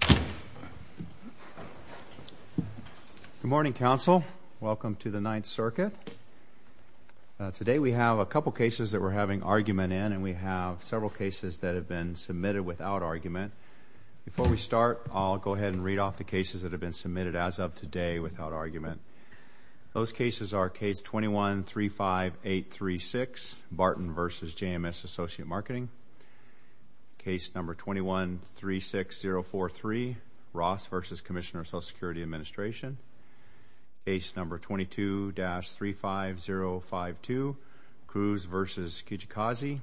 Good morning, Council. Welcome to the Ninth Circuit. Today, we have a couple cases that we're having argument in, and we have several cases that have been submitted without argument. Before we start, I'll go ahead and read off the cases that have been submitted as of today without argument. Those cases are Case 21-35836, Barton v. JMS Associate Marketing. Case number 21-36043, Ross v. Commissioner of Social Security Administration. Case number 22-35052, Cruz v. Kijikazi.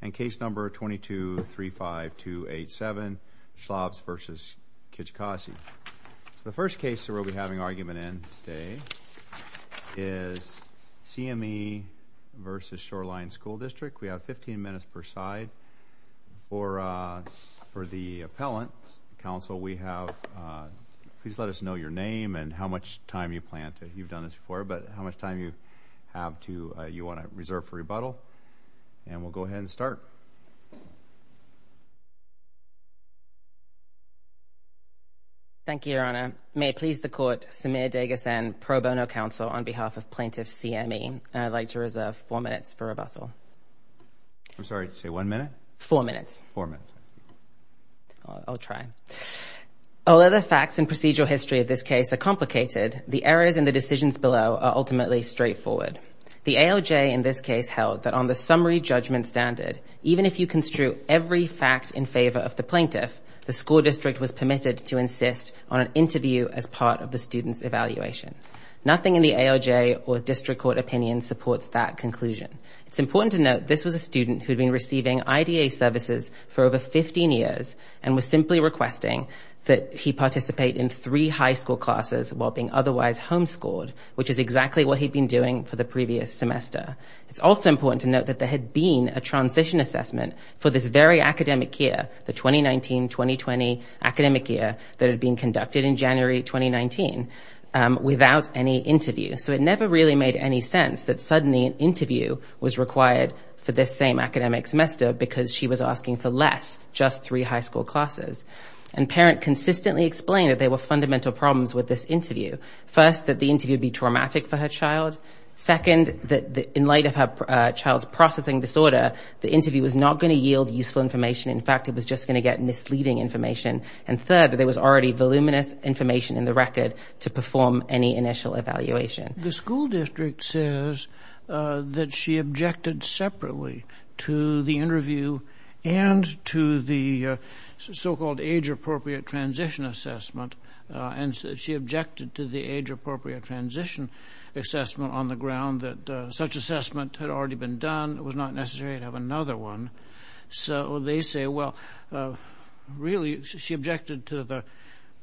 And case number 22-35287, Schlafs v. Kijikazi. The first case that we'll be having argument in today is C.M.E. v. Shoreline School District. We have 15 minutes per side. For the appellant, Council, we have, please let us know your name and how much time you plan to, you've done this before, but how much time you have to, you want to reserve for rebuttal, and we'll go ahead and start. Thank you, Your Honor. May it please the Court, Samir Deghasan, pro bono counsel on behalf of plaintiff C.M.E. I'd like to reserve four minutes for rebuttal. I'm sorry, say one minute? Four minutes. Four minutes. I'll try. Although the facts and procedural history of this case are complicated, the errors in the decisions below are ultimately straightforward. The ALJ in this case held that on the summary judgment standard, even if you construe every fact in favor of the plaintiff, the school district was permitted to insist on an interview as part of the student's evaluation. Nothing in the ALJ or district court opinion supports that conclusion. It's important to note this was a student who had been receiving IDA services for over 15 years and was simply requesting that he participate in three high school classes while being otherwise home-scored, which is exactly what he'd been doing for the previous semester. It's also important to note that there had been a transition assessment for this very academic year, the 2019-2020 academic year that had been conducted in January 2019, without any interview. So it never really made any sense that suddenly an interview was required for this same academic semester because she was asking for less, just three high school classes. And parent consistently explained that there were fundamental problems with this interview. First, that the interview would be traumatic for her child. Second, that in light of her child's processing disorder, the interview was not going to yield useful information. In fact, it was just going to get misleading information. And third, that there was already voluminous information in the record to perform any initial evaluation. The school district says that she objected separately to the interview and to the so-called age-appropriate transition assessment. And she objected to the age-appropriate transition assessment on the ground that such assessment had already been done. It was not necessary to another one. So they say, well, really, she objected to the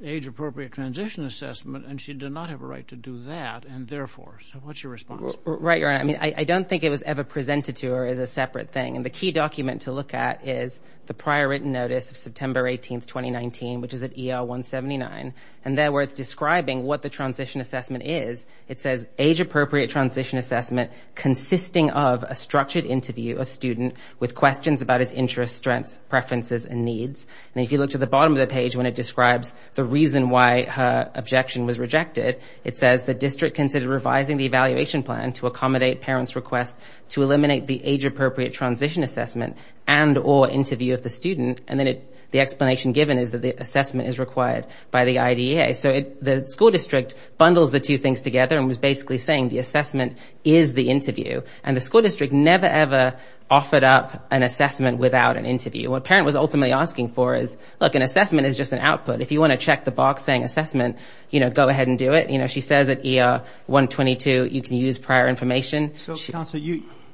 age-appropriate transition assessment and she did not have a right to do that. And therefore, so what's your response? Right. I mean, I don't think it was ever presented to her as a separate thing. And the key document to look at is the prior written notice of September 18th, 2019, which is at ER 179. And there where it's describing what the transition assessment is, it says age-appropriate transition assessment consisting of a structured interview of student with questions about his interests, strengths, preferences, and needs. And if you look to the bottom of the page, when it describes the reason why her objection was rejected, it says the district considered revising the evaluation plan to accommodate parents' request to eliminate the age-appropriate transition assessment and or interview of the student. And then the explanation given is that the assessment is required by the IDEA. So the school district bundles the two things together and was basically saying the assessment is the interview. And the school district never, ever offered up an assessment without an interview. What parent was ultimately asking for is, look, an assessment is just an output. If you want to check the box saying assessment, you know, go ahead and do it. You know, she says at ER 122, you can use prior information. So, Counselor,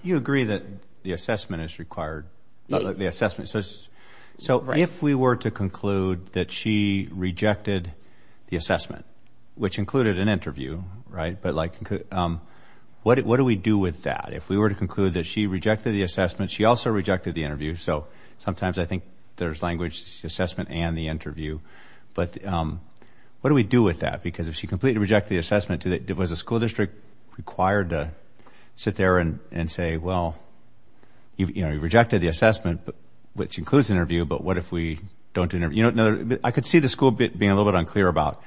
you agree that the assessment is required. So if we were to conclude that she rejected the assessment, which included an interview, right? But like, what do we do with that? If we were to conclude that she rejected the assessment, she also rejected the interview. So sometimes I think there's language assessment and the interview. But what do we do with that? Because if she completely rejected the assessment, was the school district required to sit there and say, well, you know, you rejected the assessment, which includes interview. But what if we don't interview? I could see the school being a little bit unclear about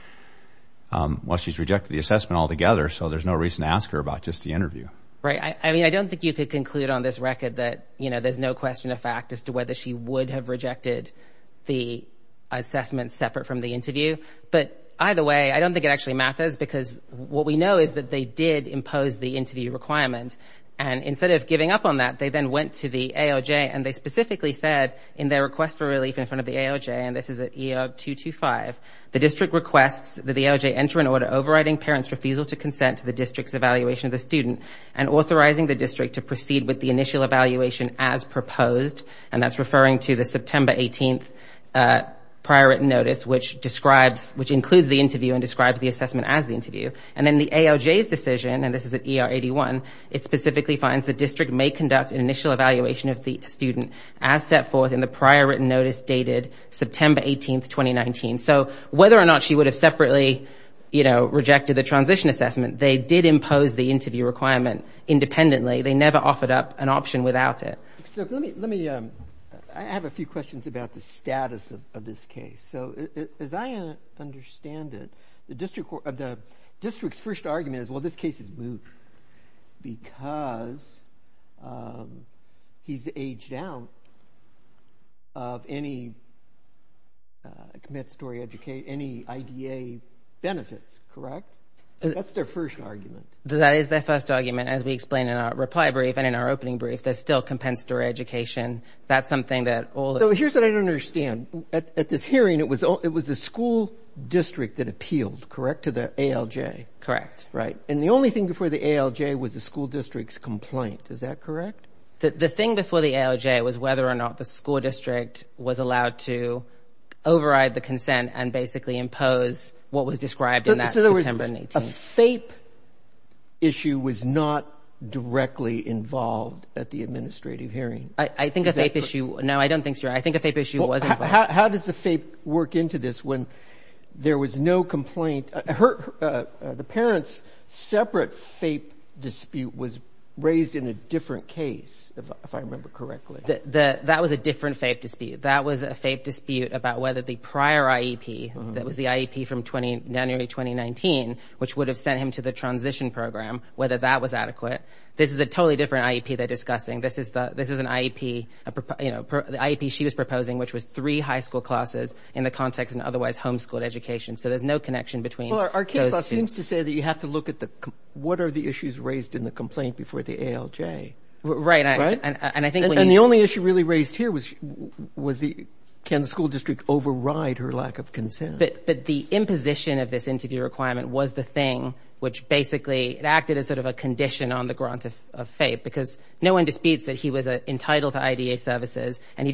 why she's rejected the assessment altogether. So there's no reason to ask her about just the interview. Right. I mean, I don't think you could conclude on this record that, you know, there's no question of fact as to whether she would have rejected the assessment separate from the interview. But either way, I don't think it actually matters because what we know is that they did impose the interview requirement. And instead of giving up on that, they then went to the AOJ and they specifically said in their request for relief in front of the AOJ, and this is at ER 225, the district requests that the AOJ enter an order overriding parents' refusal to consent to the district's evaluation of the student and authorizing the district to proceed with the initial evaluation as proposed. And that's referring to the September 18th prior written notice, which describes, which includes the interview and describes the assessment as the interview. And then the AOJ's decision, and this is at ER 81, it specifically finds the district may conduct an initial evaluation of the student as set forth in the prior written notice dated September 18th, 2019. So whether or not she would have separately, you know, rejected the transition assessment, they did impose the interview requirement independently. They never offered up an option without it. So let me, let me, I have a few questions about the status of this case. So as I understand it, the district of the district's first argument is, well, this case is moot because, um, he's aged out of any, uh, compensatory education, any IDA benefits, correct? That's their first argument. That is their first argument. As we explained in our reply brief and in our opening brief, there's still compensatory education. That's something that all, here's what I don't understand at this hearing. It was all, it was the school district that appealed, correct? To the ALJ. Correct. Right. And the only thing before the ALJ was the school district's complaint. Is that correct? The thing before the ALJ was whether or not the school district was allowed to override the consent and basically impose what was described in that September 18th. So in other words, a FAPE issue was not directly involved at the administrative hearing. I think a FAPE issue, no, I don't think so. I think a FAPE issue was involved. How does the FAPE work into this when there was no complaint? The parent's separate FAPE dispute was raised in a different case, if I remember correctly. That was a different FAPE dispute. That was a FAPE dispute about whether the prior IEP, that was the IEP from January 2019, which would have sent him to the transition program, whether that was adequate. This is a totally different IEP they're discussing. This is an IEP, you know, the IEP she was proposing, which was three high school classes in the context of an otherwise homeschooled education. So there's no connection between those two. Well, our case law seems to say that you have to look at the, what are the issues raised in the complaint before the ALJ? Right, and I think when you... And the only issue really raised here was the, can the school district override her lack of consent? But the imposition of this interview requirement was the thing which basically, it acted as sort of a condition on the grant of FAPE because no one disputes that he was entitled to IDA services, you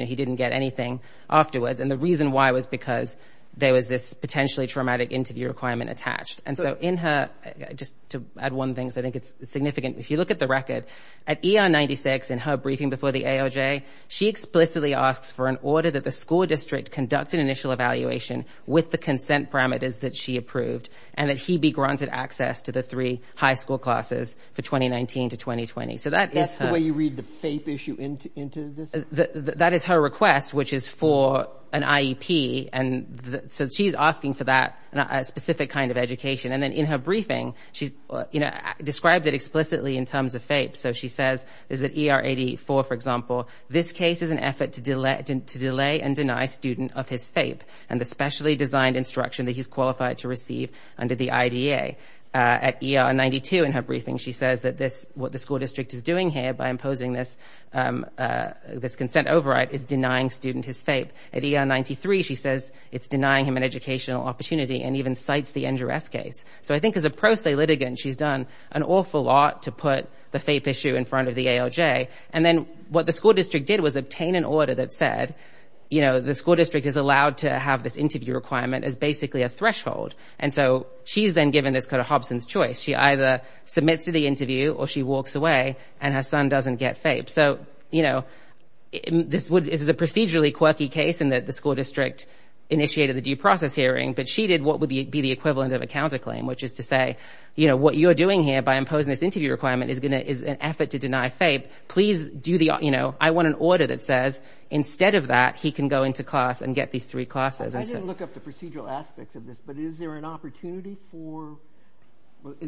know, he didn't get anything afterwards. And the reason why was because there was this potentially traumatic interview requirement attached. And so in her, just to add one thing, because I think it's significant, if you look at the record, at ER 96 in her briefing before the ALJ, she explicitly asks for an order that the school district conduct an initial evaluation with the consent parameters that she approved and that he be granted access to the three high school classes for 2019 to 2020. So that is her... That is her request, which is for an IEP. And so she's asking for that specific kind of education. And then in her briefing, she's, you know, described it explicitly in terms of FAPE. So she says, is it ER 84, for example, this case is an effort to delay and deny student of his FAPE and the specially designed instruction that he's qualified to receive under the IDA. At ER 92 in her briefing, she says that this, what the school district is doing here by consent override is denying student his FAPE. At ER 93, she says it's denying him an educational opportunity and even cites the NGREF case. So I think as a pro se litigant, she's done an awful lot to put the FAPE issue in front of the ALJ. And then what the school district did was obtain an order that said, you know, the school district is allowed to have this interview requirement as basically a threshold. And so she's then given this kind of Hobson's choice. She either submits to the interview or she walks away and her son doesn't get FAPE. So, you know, this is a procedurally quirky case in that the school district initiated the due process hearing, but she did what would be the equivalent of a counterclaim, which is to say, you know, what you're doing here by imposing this interview requirement is an effort to deny FAPE. Please do the, you know, I want an order that says instead of that, he can go into class and get these three classes. I didn't look up the procedural aspects of this, but is there an opportunity for,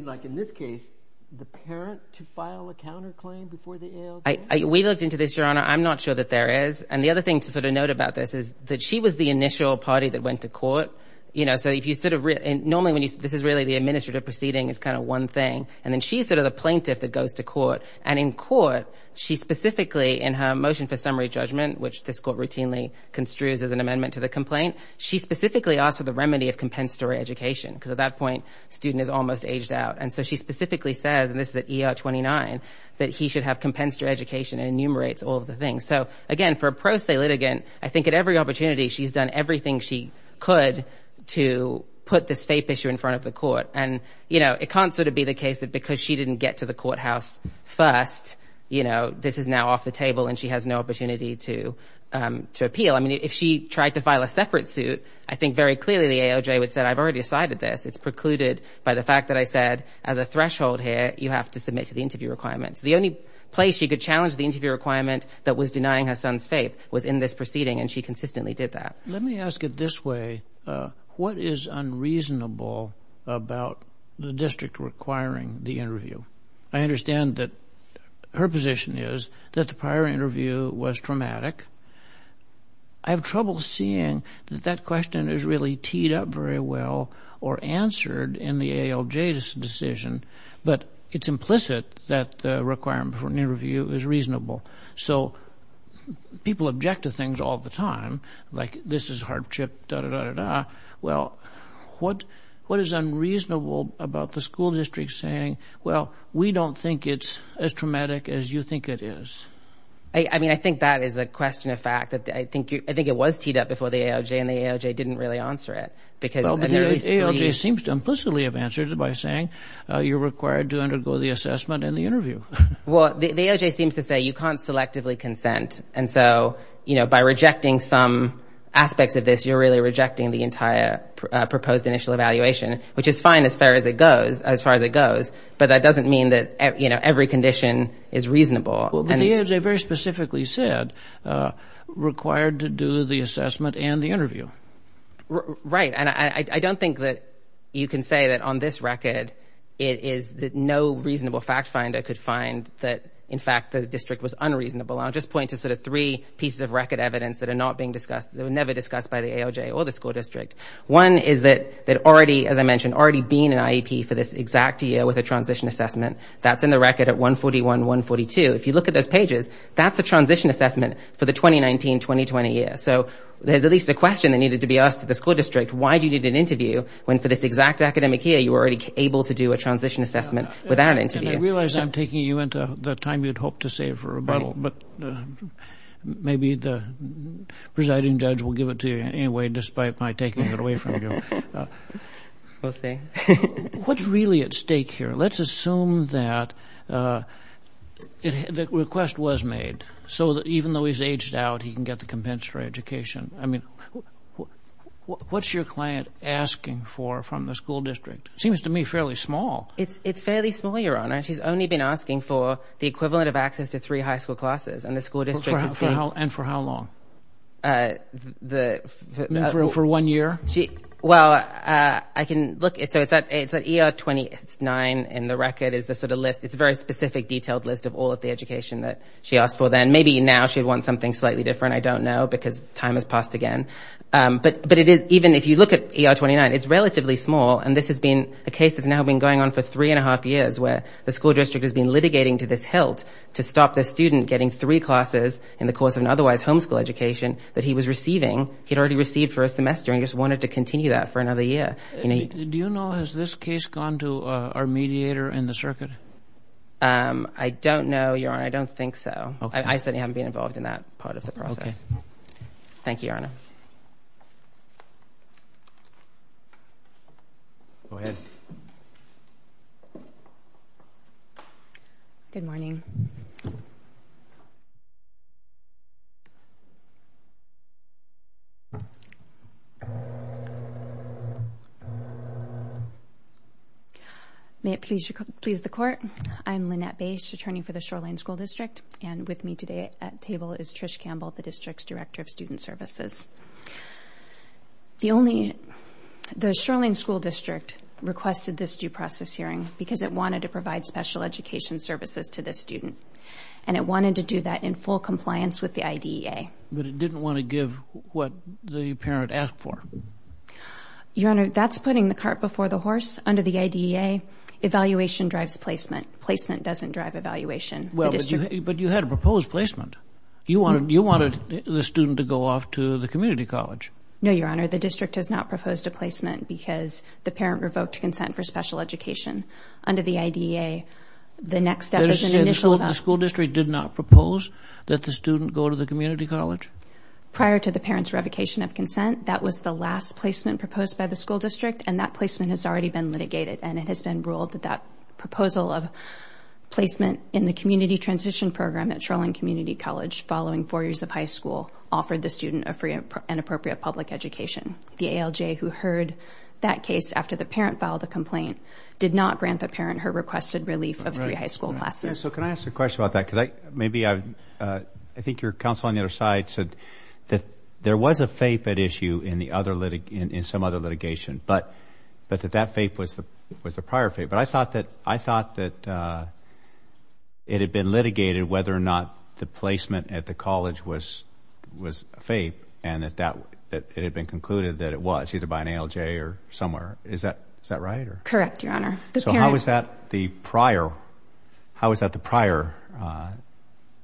like in this case, the parent to file a counterclaim before the ALJ? We looked into this, Your Honor. I'm not sure that there is. And the other thing to sort of note about this is that she was the initial party that went to court. You know, so if you sort of, normally when you, this is really the administrative proceeding is kind of one thing. And then she's sort of the plaintiff that goes to court. And in court, she specifically in her motion for summary judgment, which this court routinely construes as an amendment to the complaint, she specifically asked for the remedy of compensatory education because at that point, student is almost aged out. And so she specifically says, and this is at ER 29, that he should have compensatory education and enumerates all of the things. So again, for a pro se litigant, I think at every opportunity, she's done everything she could to put this FAPE issue in front of the court. And, you know, it can't sort of be the case that because she didn't get to the courthouse first, you know, this is now off the table and she has no opportunity to appeal. I mean, if she tried to file a separate suit, I think very clearly the AOJ would say, I've already decided this. It's precluded by the fact that I said, as a threshold here, you have to submit to the interview requirements. The only place she could challenge the interview requirement that was denying her son's FAPE was in this proceeding. And she consistently did that. Let me ask it this way. What is unreasonable about the district requiring the interview? I understand that her position is that the prior interview was traumatic. I have trouble seeing that that question is really teed up very well or answered in the AOJ's decision. But it's implicit that the requirement for an interview is reasonable. So people object to things all the time, like this is hardship, da-da-da-da-da. Well, what is unreasonable about the school district saying, well, we don't think it's as traumatic as you think it is? I mean, I think that is a question of fact. I think it was teed up before the AOJ, and the AOJ didn't really answer it. But the AOJ seems to implicitly have answered it by saying you're required to undergo the assessment and the interview. Well, the AOJ seems to say you can't selectively consent. And so, you know, by rejecting some aspects of this, you're really rejecting the entire proposed initial evaluation, which is fine as far as it goes. But that doesn't mean that every condition is reasonable. Well, but the AOJ very specifically said, required to do the assessment and the interview. Right. And I don't think that you can say that on this record, it is that no reasonable fact finder could find that, in fact, the district was unreasonable. And I'll just point to sort of three pieces of record evidence that are not being discussed, that were never discussed by the AOJ or the school district. One is that already, as I mentioned, already being an IEP for this exact year with a transition assessment, that's in the record at 141, 142. If you look at those pages, that's a transition assessment for the 2019, 2020 year. So there's at least a question that needed to be asked to the school district. Why do you need an interview when for this exact academic year, you were already able to do a transition assessment without an interview? And I realize I'm taking you into the time you'd hope to save for rebuttal, but maybe the presiding judge will give it to you anyway, despite my taking it away from you. We'll see. What's really at stake here? Let's assume that the request was made so that even though he's aged out, he can get the compensatory education. I mean, what's your client asking for from the school district? It seems to me fairly small. It's fairly small, Your Honor. She's only been asking for the equivalent of access to three high school classes, and the school district is taking... And for how long? For one year? Well, I can look. So it's at ER 29, and the record is the sort of list. It's a very specific detailed list of all of the education that she asked for then. Maybe now she'd want something slightly different. I don't know, because time has passed again. But even if you look at ER 29, it's relatively small, and this has been a case that's now been going on for three and a half years, where the school district has been litigating to this health to stop the student getting three classes in the course of an otherwise homeschool education that he was receiving, he'd already received for a semester, and he just wanted to continue that for another year. Do you know, has this case gone to our mediator in the circuit? I don't know, Your Honor. I don't think so. I certainly haven't been involved in that part of the process. Thank you, Your Honor. Go ahead. Good morning. May it please the Court, I'm Lynette Bache, Attorney for the Shoreline School District, and with me today at table is Trish Campbell, the District's Director of Student Services. The Shoreline School District requested this due process hearing because it wanted to provide special education services to this student, and it wanted to do that in full compliance with the IDEA. But it didn't want to give what the parent asked for. Your Honor, that's putting the cart before the horse. Under the IDEA, evaluation drives placement. Placement doesn't drive evaluation. But you had a proposed placement. You wanted the student to go off to the community college. No, Your Honor. The district has not proposed a placement because the parent revoked consent for special education. Under the IDEA, the next step is an initial event. The school district did not propose that the student go to the community college? Prior to the parent's revocation of consent, that was the last placement proposed by the school district, and that placement has already been litigated, and it has been ruled that proposal of placement in the community transition program at Shoreline Community College following four years of high school offered the student an appropriate public education. The ALJ, who heard that case after the parent filed the complaint, did not grant the parent her requested relief of three high school classes. So can I ask a question about that? Because maybe I think your counsel on the other side said that there was a FAPE at issue in some other litigation, but that that FAPE was the prior FAPE. But I thought that it had been litigated whether or not the placement at the college was FAPE, and it had been concluded that it was, either by an ALJ or somewhere. Is that right? Correct, Your Honor. So how is that the prior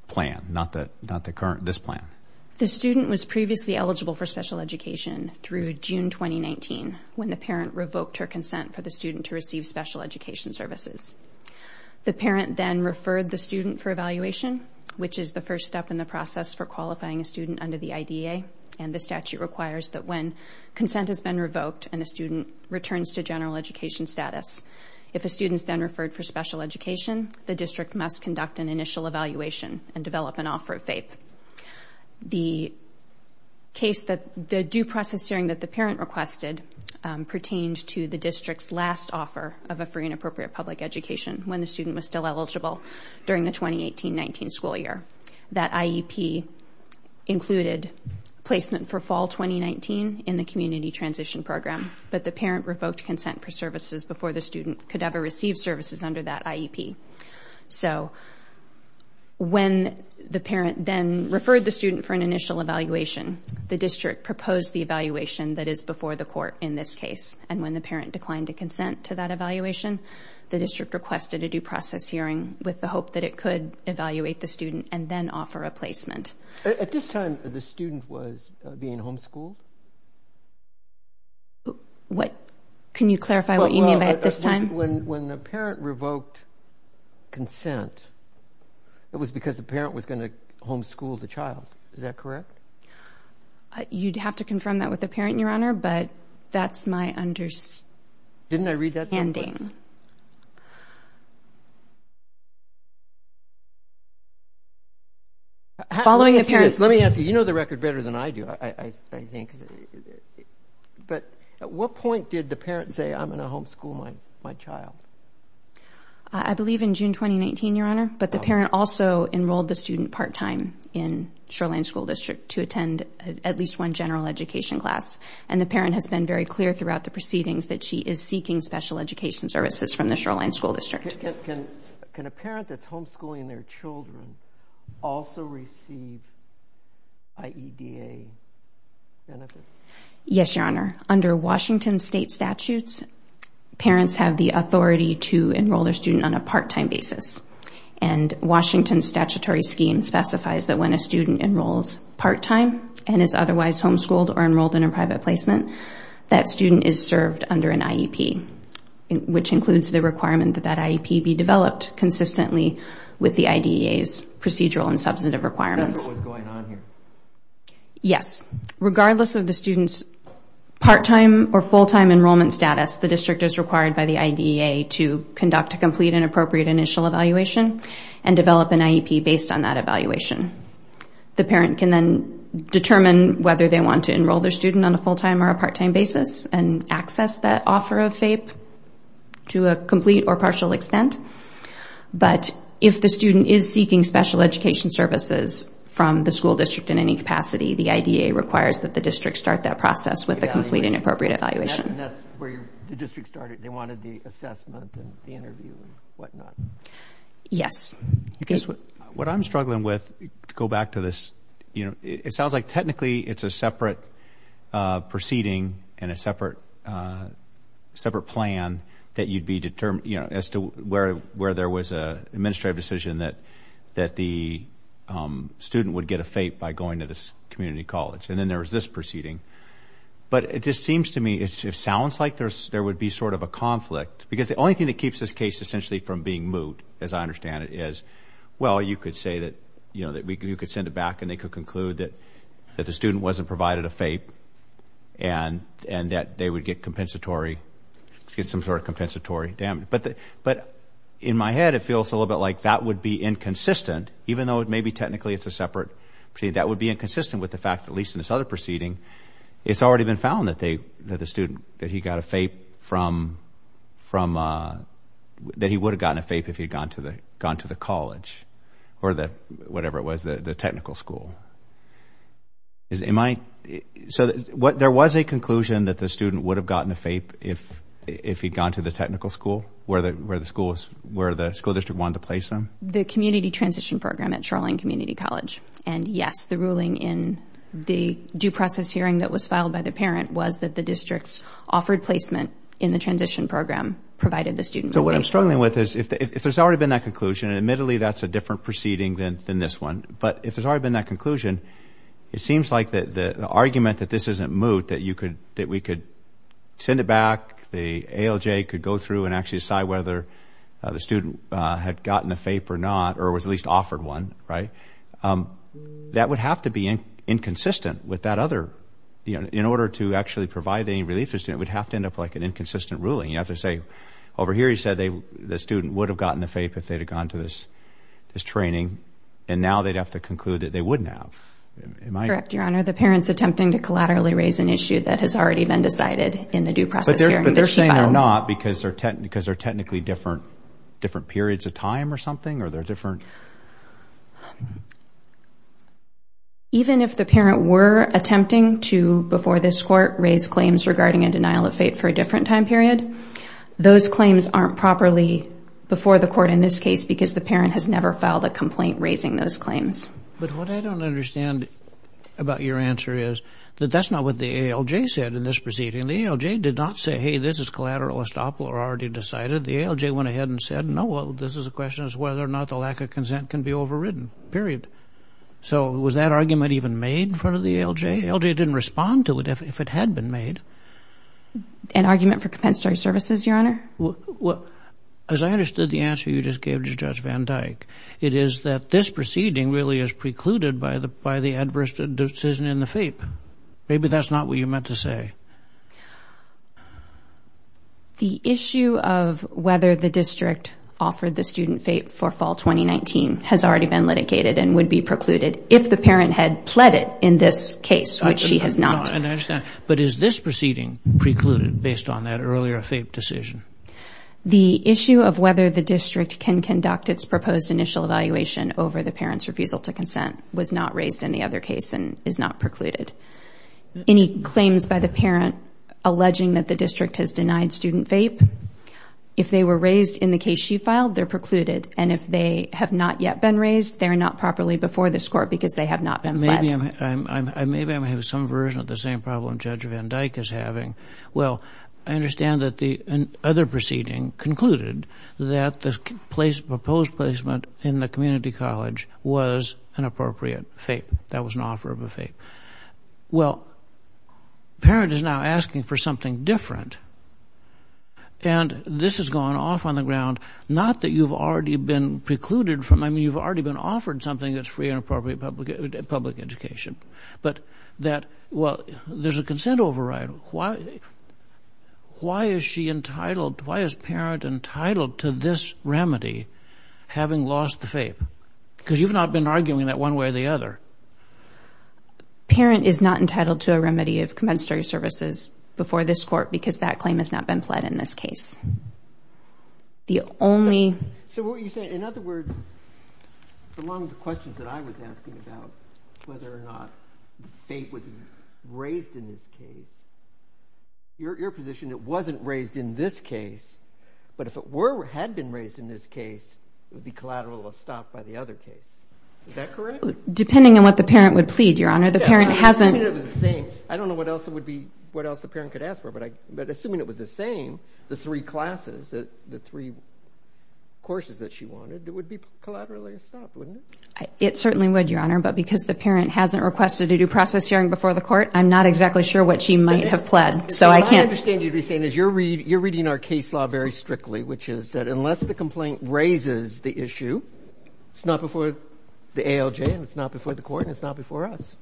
plan, not this plan? The student was previously eligible for special education through June 2019, when the parent revoked her consent for the student to receive special education services. The parent then referred the student for evaluation, which is the first step in the process for qualifying a student under the IDA, and the statute requires that when consent has been revoked and a student returns to general education status, if a student is then referred for special education, the district must conduct an initial evaluation and develop an offer of FAPE. The case that the due process hearing that the parent requested pertains to the district's last offer of a free and appropriate public education when the student was still eligible during the 2018-19 school year. That IEP included placement for fall 2019 in the community transition program, but the parent revoked consent for services before the student could ever receive services under that IEP. So when the parent then referred the student for an initial evaluation, the district proposed the evaluation that is before the court in this case, and when the parent declined to consent to that evaluation, the district requested a due process hearing with the hope that it could evaluate the student and then offer a placement. At this time, the student was being homeschooled? Can you clarify what you mean by at this time? When the parent revoked consent, it was because the parent was going to homeschool the child. Is that correct? You'd have to confirm that with the parent, Your Honor, but that's my understanding. Didn't I read that? Ending. Following a parent's... Let me ask you, you know the record better than I do, I think. But at what point did the parent say, I'm going to homeschool my child? I believe in June 2019, Your Honor, but the parent also enrolled the student part-time in Shoreline School District to attend at least one general education class. And the parent has been very clear throughout the proceedings that she is seeking special education services from the Shoreline School District. Can a parent that's homeschooling their children also receive IEDA benefits? Yes, Your Honor. Under Washington state statutes, parents have the authority to enroll their student on a part-time basis. And Washington statutory scheme specifies that when a student enrolls part-time and is otherwise homeschooled or enrolled in a private placement, that student is served under an IEP, which includes the requirement that that IEP be developed consistently with the IDEA's procedural and substantive requirements. Is that what was going on here? Yes. Regardless of the student's part-time or full-time enrollment status, the district is required by the IDEA to conduct a complete and appropriate initial evaluation and develop an IEP based on that evaluation. The parent can then determine whether they want to enroll their student on a full-time or a part-time basis and access that offer of FAPE to a complete or partial extent. But if the student is seeking special education services from the school district in any capacity, the IDEA requires that the district start that process with a complete and appropriate evaluation. And that's where the district started. They wanted the assessment and the interview and whatnot. Yes. What I'm struggling with, to go back to this, it sounds like technically it's a separate proceeding and a separate plan that you'd be determined, as to where there was an administrative decision that the student would get a FAPE by going to this community college. And then there was this proceeding. But it just seems to me, it sounds like there would be sort of a conflict, because the only thing that keeps this case essentially from being moot, as I understand it, is, well, you could say that you could send it back and they could conclude that the student wasn't provided a FAPE and that they would get compensatory, get some sort of compensatory damage. But in my head, it feels a little bit like that would be inconsistent, even though it may be technically it's a separate proceeding. That would be inconsistent with the fact, at least in this other proceeding, it's already been found that the student, that he got a FAPE from, that he would have gotten a FAPE if he had gone to the college or whatever it was, the technical school. There was a conclusion that the student would have gotten a FAPE if he'd gone to the technical school, where the school district wanted to place him. The community transition program at Shoreline Community College. And yes, the ruling in the due process hearing that was filed by the parent was that the district's offered placement in the transition program provided the student with a FAPE. So what I'm struggling with is, if there's already been that conclusion, and admittedly that's a different proceeding than this one, but if there's already been that conclusion, it seems like the argument that this isn't moot, that we could send it back, the ALJ could go through and actually decide whether the student had gotten a FAPE or not, or was at least offered one, right? That would have to be inconsistent with that other, you know, in order to actually provide any relief to the student, it would have to end up like an inconsistent ruling. You have to say, over here you said the student would have gotten a FAPE if they had gone to this training, and now they'd have to conclude that they wouldn't have. Am I correct? Correct, Your Honor. The parent's attempting to collaterally raise an issue that has already been decided in the due process hearing. But they're saying they're not, because they're technically different periods of time or something, or they're different? Even if the parent were attempting to, before this court, raise claims regarding a denial of FAPE for a different time period, those claims aren't properly before the court in this case, because the parent has never filed a complaint raising those claims. But what I don't understand about your answer is that that's not what the ALJ said in this proceeding. The ALJ did not say, hey, this is collateral estoppel or already decided. The ALJ went ahead and said, no, well, this is a question as to whether or not the lack of consent can be overridden, period. So was that argument even made in front of the ALJ? ALJ didn't respond to it if it had been made. An argument for compensatory services, Your Honor? As I understood the answer you just gave to Judge Van Dyke, it is that this proceeding really is precluded by the adverse decision in the FAPE. Maybe that's not what you meant to say. The issue of whether the district offered the student FAPE for fall 2019 has already been litigated and would be precluded if the parent had pled it in this case, which she has not. I understand. But is this proceeding precluded based on that earlier FAPE decision? The issue of whether the district can conduct its proposed initial evaluation over the parent's not precluded. Any claims by the parent alleging that the district has denied student FAPE, if they were raised in the case she filed, they're precluded. And if they have not yet been raised, they're not properly before this court because they have not been pled. Maybe I'm having some version of the same problem Judge Van Dyke is having. Well, I understand that the other proceeding concluded that the proposed placement in the community college was an appropriate FAPE. That was an offer of a FAPE. Well, parent is now asking for something different. And this has gone off on the ground. Not that you've already been precluded from, I mean, you've already been offered something that's free and appropriate public education. But that, well, there's a consent override. Why is she entitled, why is parent entitled to this remedy, having lost the FAPE? Because you've not been arguing that one way or the other. Parent is not entitled to a remedy of compensatory services before this court because that claim has not been pled in this case. The only... So, what you're saying, in other words, along with the questions that I was asking about whether or not FAPE was raised in this case, your position, it wasn't raised in this case, but if it were, had been raised in this case, it would be collateral or stopped by the other case. Is that correct? Depending on what the parent would plead, Your Honor. The parent hasn't... Assuming it was the same. I don't know what else it would be, what else the parent could ask for, but assuming it was the same, the three classes, the three courses that she wanted, it would be collaterally stopped, wouldn't it? It certainly would, Your Honor. But because the parent hasn't requested a due process hearing before the court, I'm not exactly sure what she might have pled. What I understand you to be saying is you're reading our case law very strictly, which is that unless the complaint raises the issue, it's not before the ALJ and it's not before the court and it's not before us.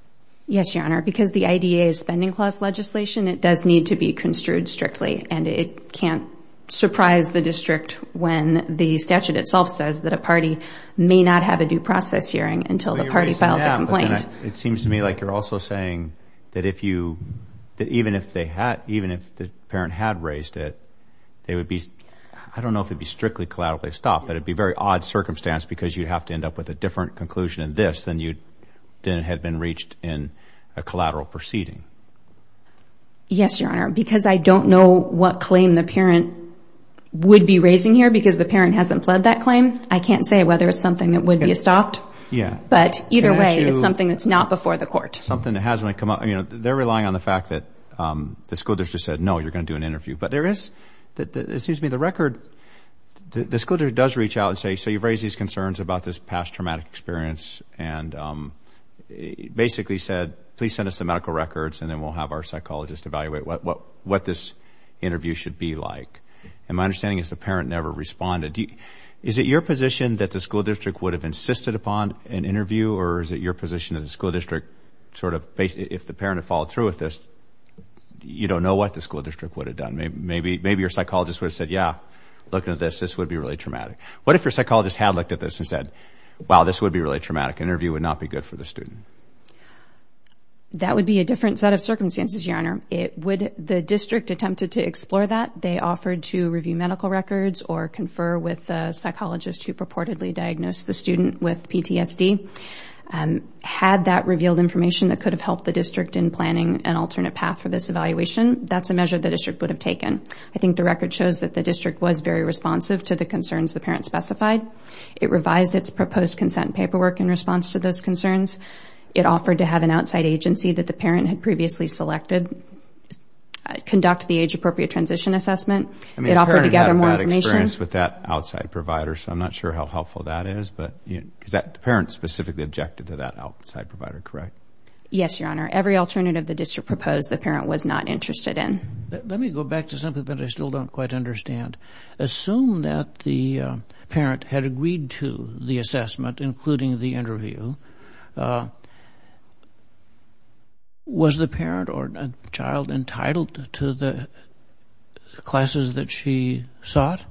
Yes, Your Honor. Because the IDA is spending clause legislation, it does need to be construed strictly and it can't surprise the district when the statute itself says that a party may not have a due process hearing until the party files a complaint. It seems to me like you're also saying that even if the parent had raised it, they would be... I don't know if it'd be strictly collaterally stopped, but it'd be a very odd circumstance because you'd have to end up with a different conclusion in this than you'd have been reached in a collateral proceeding. Yes, Your Honor. Because I don't know what claim the parent would be raising here because the parent hasn't pled that claim. I can't say whether it's something that would be stopped. But either way, it's something that's not before the court. Something that hasn't come up. They're relying on the fact that the school district said, no, you're going to do an interview. But there is... It seems to me the school district does reach out and say, so you've raised these concerns about this past traumatic experience and basically said, please send us the medical records and then we'll have our psychologist evaluate what this interview should be like. And my understanding is the parent never responded. Is it your position that the school district would have insisted upon an interview or is it your position that the school district sort of... If the parent had followed through with this, you don't know what the school district would have done. Maybe your psychologist would have said, yeah, looking at this, this would be really traumatic. What if your psychologist had looked at this and said, wow, this would be really traumatic. Interview would not be good for the student. That would be a different set of circumstances, Your Honor. It would... The district attempted to explore that. They offered to review medical records or confer with a psychologist who purportedly diagnosed the student with PTSD. Had that revealed information that could have helped the district in planning an alternate path for this evaluation, that's a measure the district would have taken. I think the record shows that the district was very responsive to the concerns the parent specified. It revised its proposed consent paperwork in response to those concerns. It offered to have an outside agency that the parent had previously selected conduct the age-appropriate transition assessment. It offered to gather more information... I mean, the parent had a bad experience with that outside provider, so I'm not sure how helpful that is, but... Is that... The parent specifically objected to that outside provider, correct? Yes, Your Honor. Every alternative the district proposed, the parent was not interested in. Let me go back to something that I still don't quite understand. Assume that the parent had agreed to the assessment, including the interview. Was the parent or child entitled to the classes that she sought,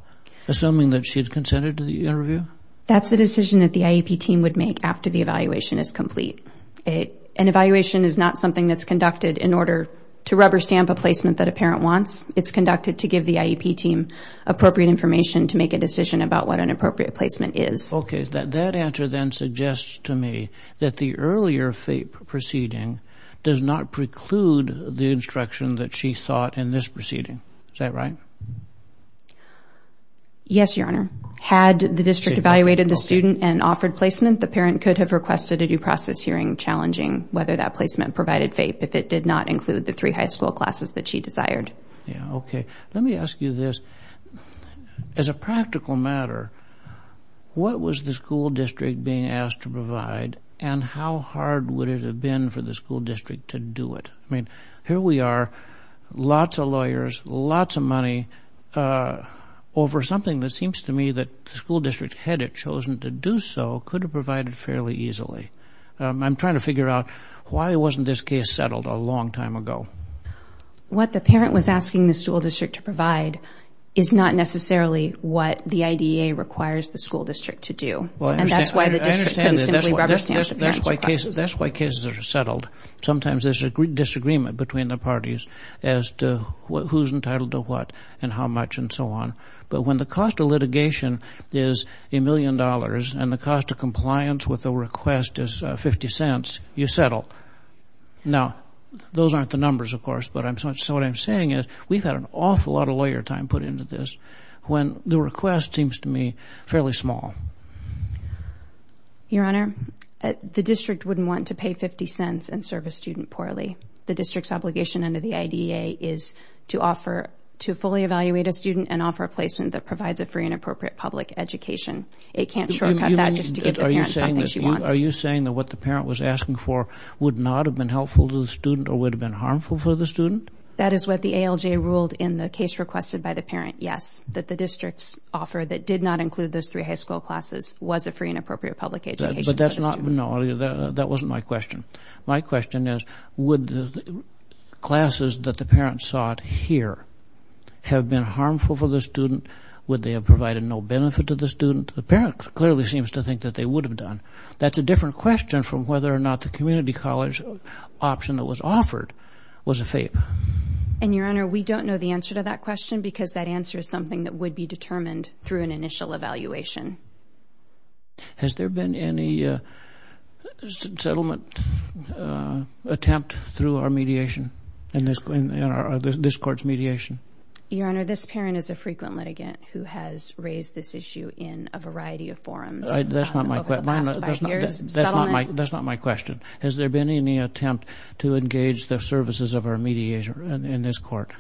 assuming that she had consented to the interview? That's a decision that the IEP team would make after the evaluation is complete. An evaluation is not something that's conducted in order to rubber-stamp a placement that a parent wants. It's conducted to give the IEP team appropriate information to make a decision about what an appropriate placement is. That answer then suggests to me that the earlier FAPE proceeding does not preclude the instruction that she sought in this proceeding. Is that right? Yes, Your Honor. Had the district evaluated the student and offered placement, the parent could have requested a due process hearing challenging whether that placement provided FAPE if it did not include the three high school classes that she desired. Let me ask you this. As a practical matter, what was the school district being asked to provide, and how hard would it have been for the school district to do it? I mean, here we are, lots of lawyers, lots of money, over something that seems to me that the school district, had it chosen to do so, could have provided fairly easily. I'm trying to figure out why wasn't this case settled a long time ago? What the parent was asking the school district to provide is not necessarily what the IDEA requires the school district to do. And that's why the district can simply rubber stamp the parent's request. That's why cases are settled. Sometimes there's a disagreement between the parties as to who's entitled to what and how much and so on. But when the cost of litigation is a million dollars and the cost of compliance with a request is 50 cents, you settle. Now, those aren't the numbers, of course, but what I'm saying is we've had an awful lot of lawyer time put into this when the request seems to me fairly small. Your Honor, the district wouldn't want to pay 50 cents and serve a student poorly. The district's obligation under the IDEA is to offer, to fully evaluate a student and offer a placement that provides a free and appropriate public education. It can't shortcut that just to give the parent something she wants. Are you saying that what the parent was asking for would not have been helpful to the student or would have been harmful for the student? That is what the ALJ ruled in the case requested by the parent, yes, that the district's offer that did not include those three high school classes was a free and appropriate public education. But that's not, no, that wasn't my question. My question is, would the classes that the parent sought here have been harmful for the student? Would they have provided no benefit to the student? The parent clearly seems to think that they would have done. That's a different question from whether or not the community college option that was offered was a FAPE. And Your Honor, we don't know the answer to that question because that answer is something that would be determined through an initial evaluation. Has there been any settlement attempt through our mediation, in this court's mediation? Your Honor, this parent is a frequent litigant who has raised this issue in a variety of forums over the past year. That's not my question. Has there been any attempt to engage the services of our mediation in this court?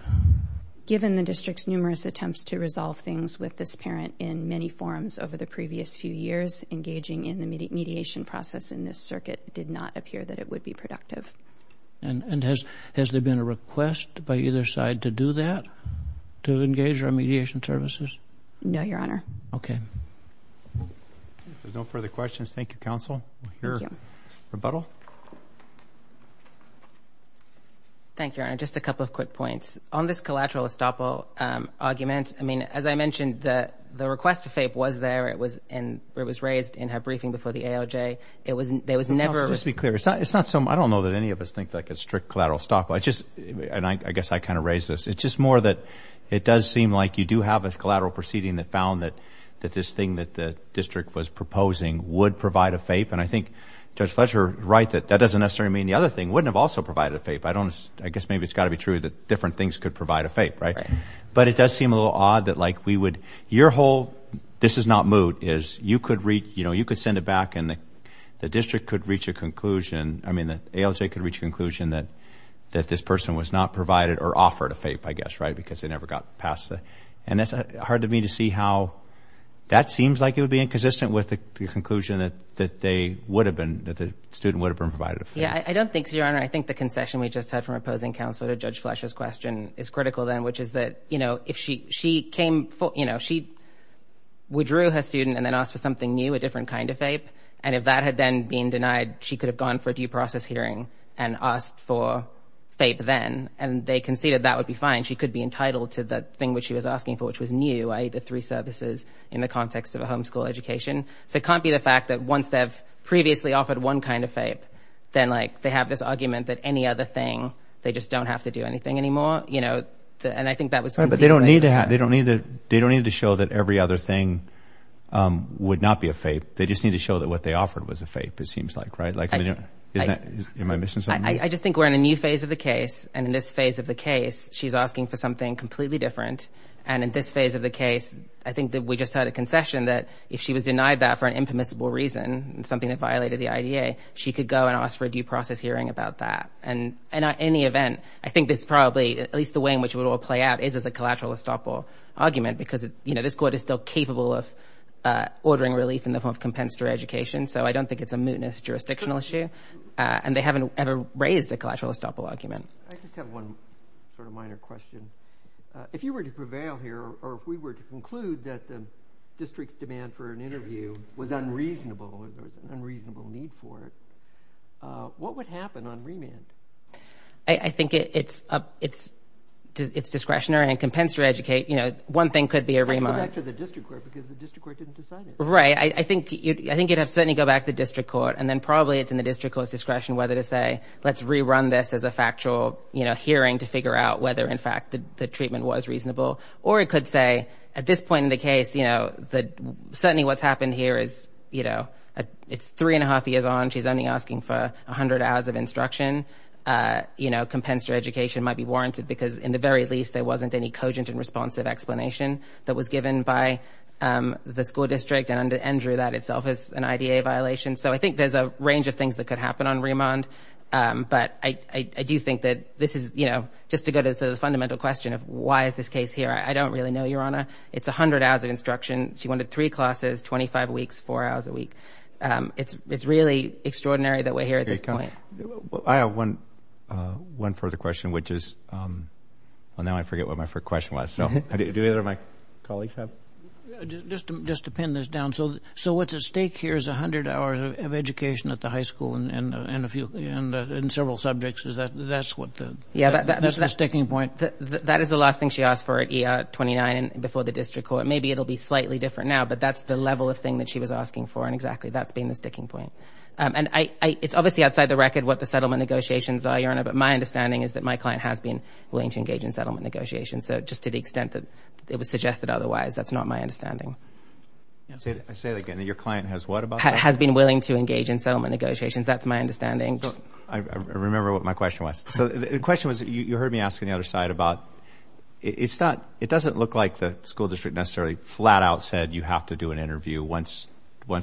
Given the district's numerous attempts to resolve things with this parent in many forums over the previous few years, engaging in the mediation process in this circuit did not appear that it would be productive. And has there been a request by either side to do that, to engage our mediation services? No, Your Honor. Okay. If there's no further questions, thank you, Counsel. Thank you. Rebuttal? Thank you, Your Honor. Just a couple of quick points. On this collateral estoppel argument, I mean, as I mentioned, the request to FAPE was there. It was raised in her briefing before the AOJ. It was never— Counsel, just to be clear, it's not some—I don't know that any of us think like a strict collateral estoppel. I just—and I guess I kind of raised this—it's just more that it does seem like you do have a collateral proceeding that found that this thing that the district was proposing would provide a FAPE. And I think Judge Fletcher is right that that doesn't necessarily mean the other thing wouldn't have also provided a FAPE. I don't—I guess maybe it's got to be true that different things could provide a FAPE, right? But it does seem a little odd that like we would—your whole, this is not moot, is you could send it back and the district could reach a conclusion—I mean, the AOJ could reach a conclusion that this person was not provided or offered a FAPE, I guess, right? And that's hard to me to see how that seems like it would be inconsistent with the conclusion that they would have been—that the student would have been provided a FAPE. Yeah, I don't think so, Your Honor. I think the concession we just had from opposing counselor to Judge Fletcher's question is critical then, which is that, you know, if she came for, you know, she withdrew her student and then asked for something new, a different kind of FAPE, and if that had then been denied, she could have gone for a due process hearing and asked for FAPE then, and they conceded that would be fine. And she could be entitled to that thing which she was asking for, which was new, i.e., the three services in the context of a homeschool education. So it can't be the fact that once they've previously offered one kind of FAPE, then like they have this argument that any other thing, they just don't have to do anything anymore, you know? And I think that was— But they don't need to have—they don't need to—they don't need to show that every other thing would not be a FAPE. They just need to show that what they offered was a FAPE, it seems like, right? Like, I mean, is that—am I missing something? I just think we're in a new phase of the case, and in this phase of the case, she's asking for something completely different. And in this phase of the case, I think that we just had a concession that if she was denied that for an impermissible reason, something that violated the IDA, she could go and ask for a due process hearing about that. And in any event, I think this probably—at least the way in which it would all play out is as a collateral estoppel argument because, you know, this court is still capable of ordering relief in the form of compensatory education. So I don't think it's a mootness jurisdictional issue, and they haven't ever raised a collateral estoppel argument. I just have one sort of minor question. If you were to prevail here, or if we were to conclude that the district's demand for an interview was unreasonable, there was an unreasonable need for it, what would happen on remand? I think it's discretionary and compensatory education, you know, one thing could be a remand. It could go back to the district court because the district court didn't decide it. Right. I think it would certainly go back to the district court, and then probably it's in this as a factual, you know, hearing to figure out whether, in fact, the treatment was reasonable. Or it could say, at this point in the case, you know, certainly what's happened here is, you know, it's three and a half years on, she's only asking for 100 hours of instruction, you know, compensatory education might be warranted because, in the very least, there wasn't any cogent and responsive explanation that was given by the school district and drew that itself as an IDA violation. So I think there's a range of things that could happen on remand, but I do think that this is, you know, just to go to the fundamental question of why is this case here, I don't really know, Your Honor. It's 100 hours of instruction, she wanted three classes, 25 weeks, four hours a week. It's really extraordinary that we're here at this point. I have one further question, which is, well, now I forget what my first question was, so do either of my colleagues have? Just to pin this down, so what's at stake here is 100 hours of education at the high school and in several subjects, is that, that's what the, that's the sticking point? That is the last thing she asked for at ER 29 and before the district court. Maybe it'll be slightly different now, but that's the level of thing that she was asking for, and exactly, that's been the sticking point. And it's obviously outside the record what the settlement negotiations are, Your Honor, but my understanding is that my client has been willing to engage in settlement negotiations, so just to the extent that it was suggested otherwise, that's not my understanding. I say it again, your client has what about that? Has been willing to engage in settlement negotiations, that's my understanding. I remember what my question was. So the question was, you heard me ask on the other side about, it's not, it doesn't look like the school district necessarily flat out said you have to do an interview once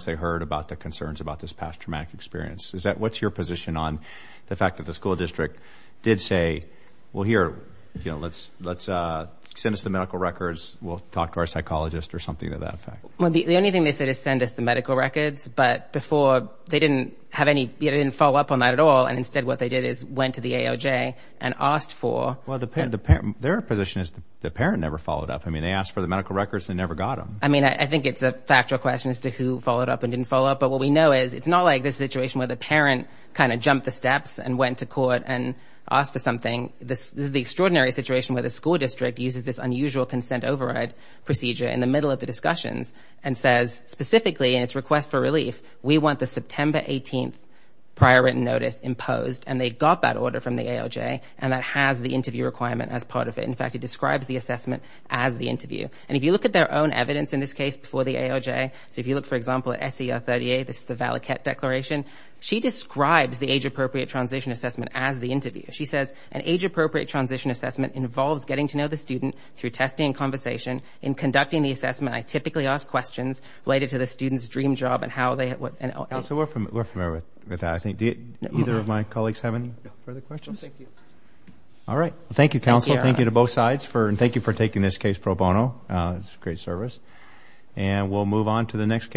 they heard about the concerns about this past traumatic experience. Is that, what's your position on the fact that the school district did say, well, here, let's send us the medical records, we'll talk to our psychologist or something to that effect? Well, the only thing they said is send us the medical records, but before they didn't have any, didn't follow up on that at all, and instead what they did is went to the AOJ and asked for... Well, their position is the parent never followed up. I mean, they asked for the medical records, they never got them. I mean, I think it's a factual question as to who followed up and didn't follow up, but what we know is it's not like this situation where the parent kind of jumped the steps and went to court and asked for something. This is the extraordinary situation where the school district uses this unusual consent override procedure in the middle of the discussions and says, specifically in its request for relief, we want the September 18th prior written notice imposed, and they got that order from the AOJ, and that has the interview requirement as part of it. In fact, it describes the assessment as the interview. And if you look at their own evidence in this case before the AOJ, so if you look, for example, at SER 38, this is the Valaket Declaration, she describes the age-appropriate transition assessment as the interview. She says, an age-appropriate transition assessment involves getting to know the student through testing and conversation. In conducting the assessment, I typically ask questions related to the student's dream job and how they— Counselor, we're familiar with that. I think either of my colleagues have any further questions? No, thank you. All right. Thank you, counsel. Thank you to both sides, and thank you for taking this case pro bono. It's a great service. And we'll move on to the next case.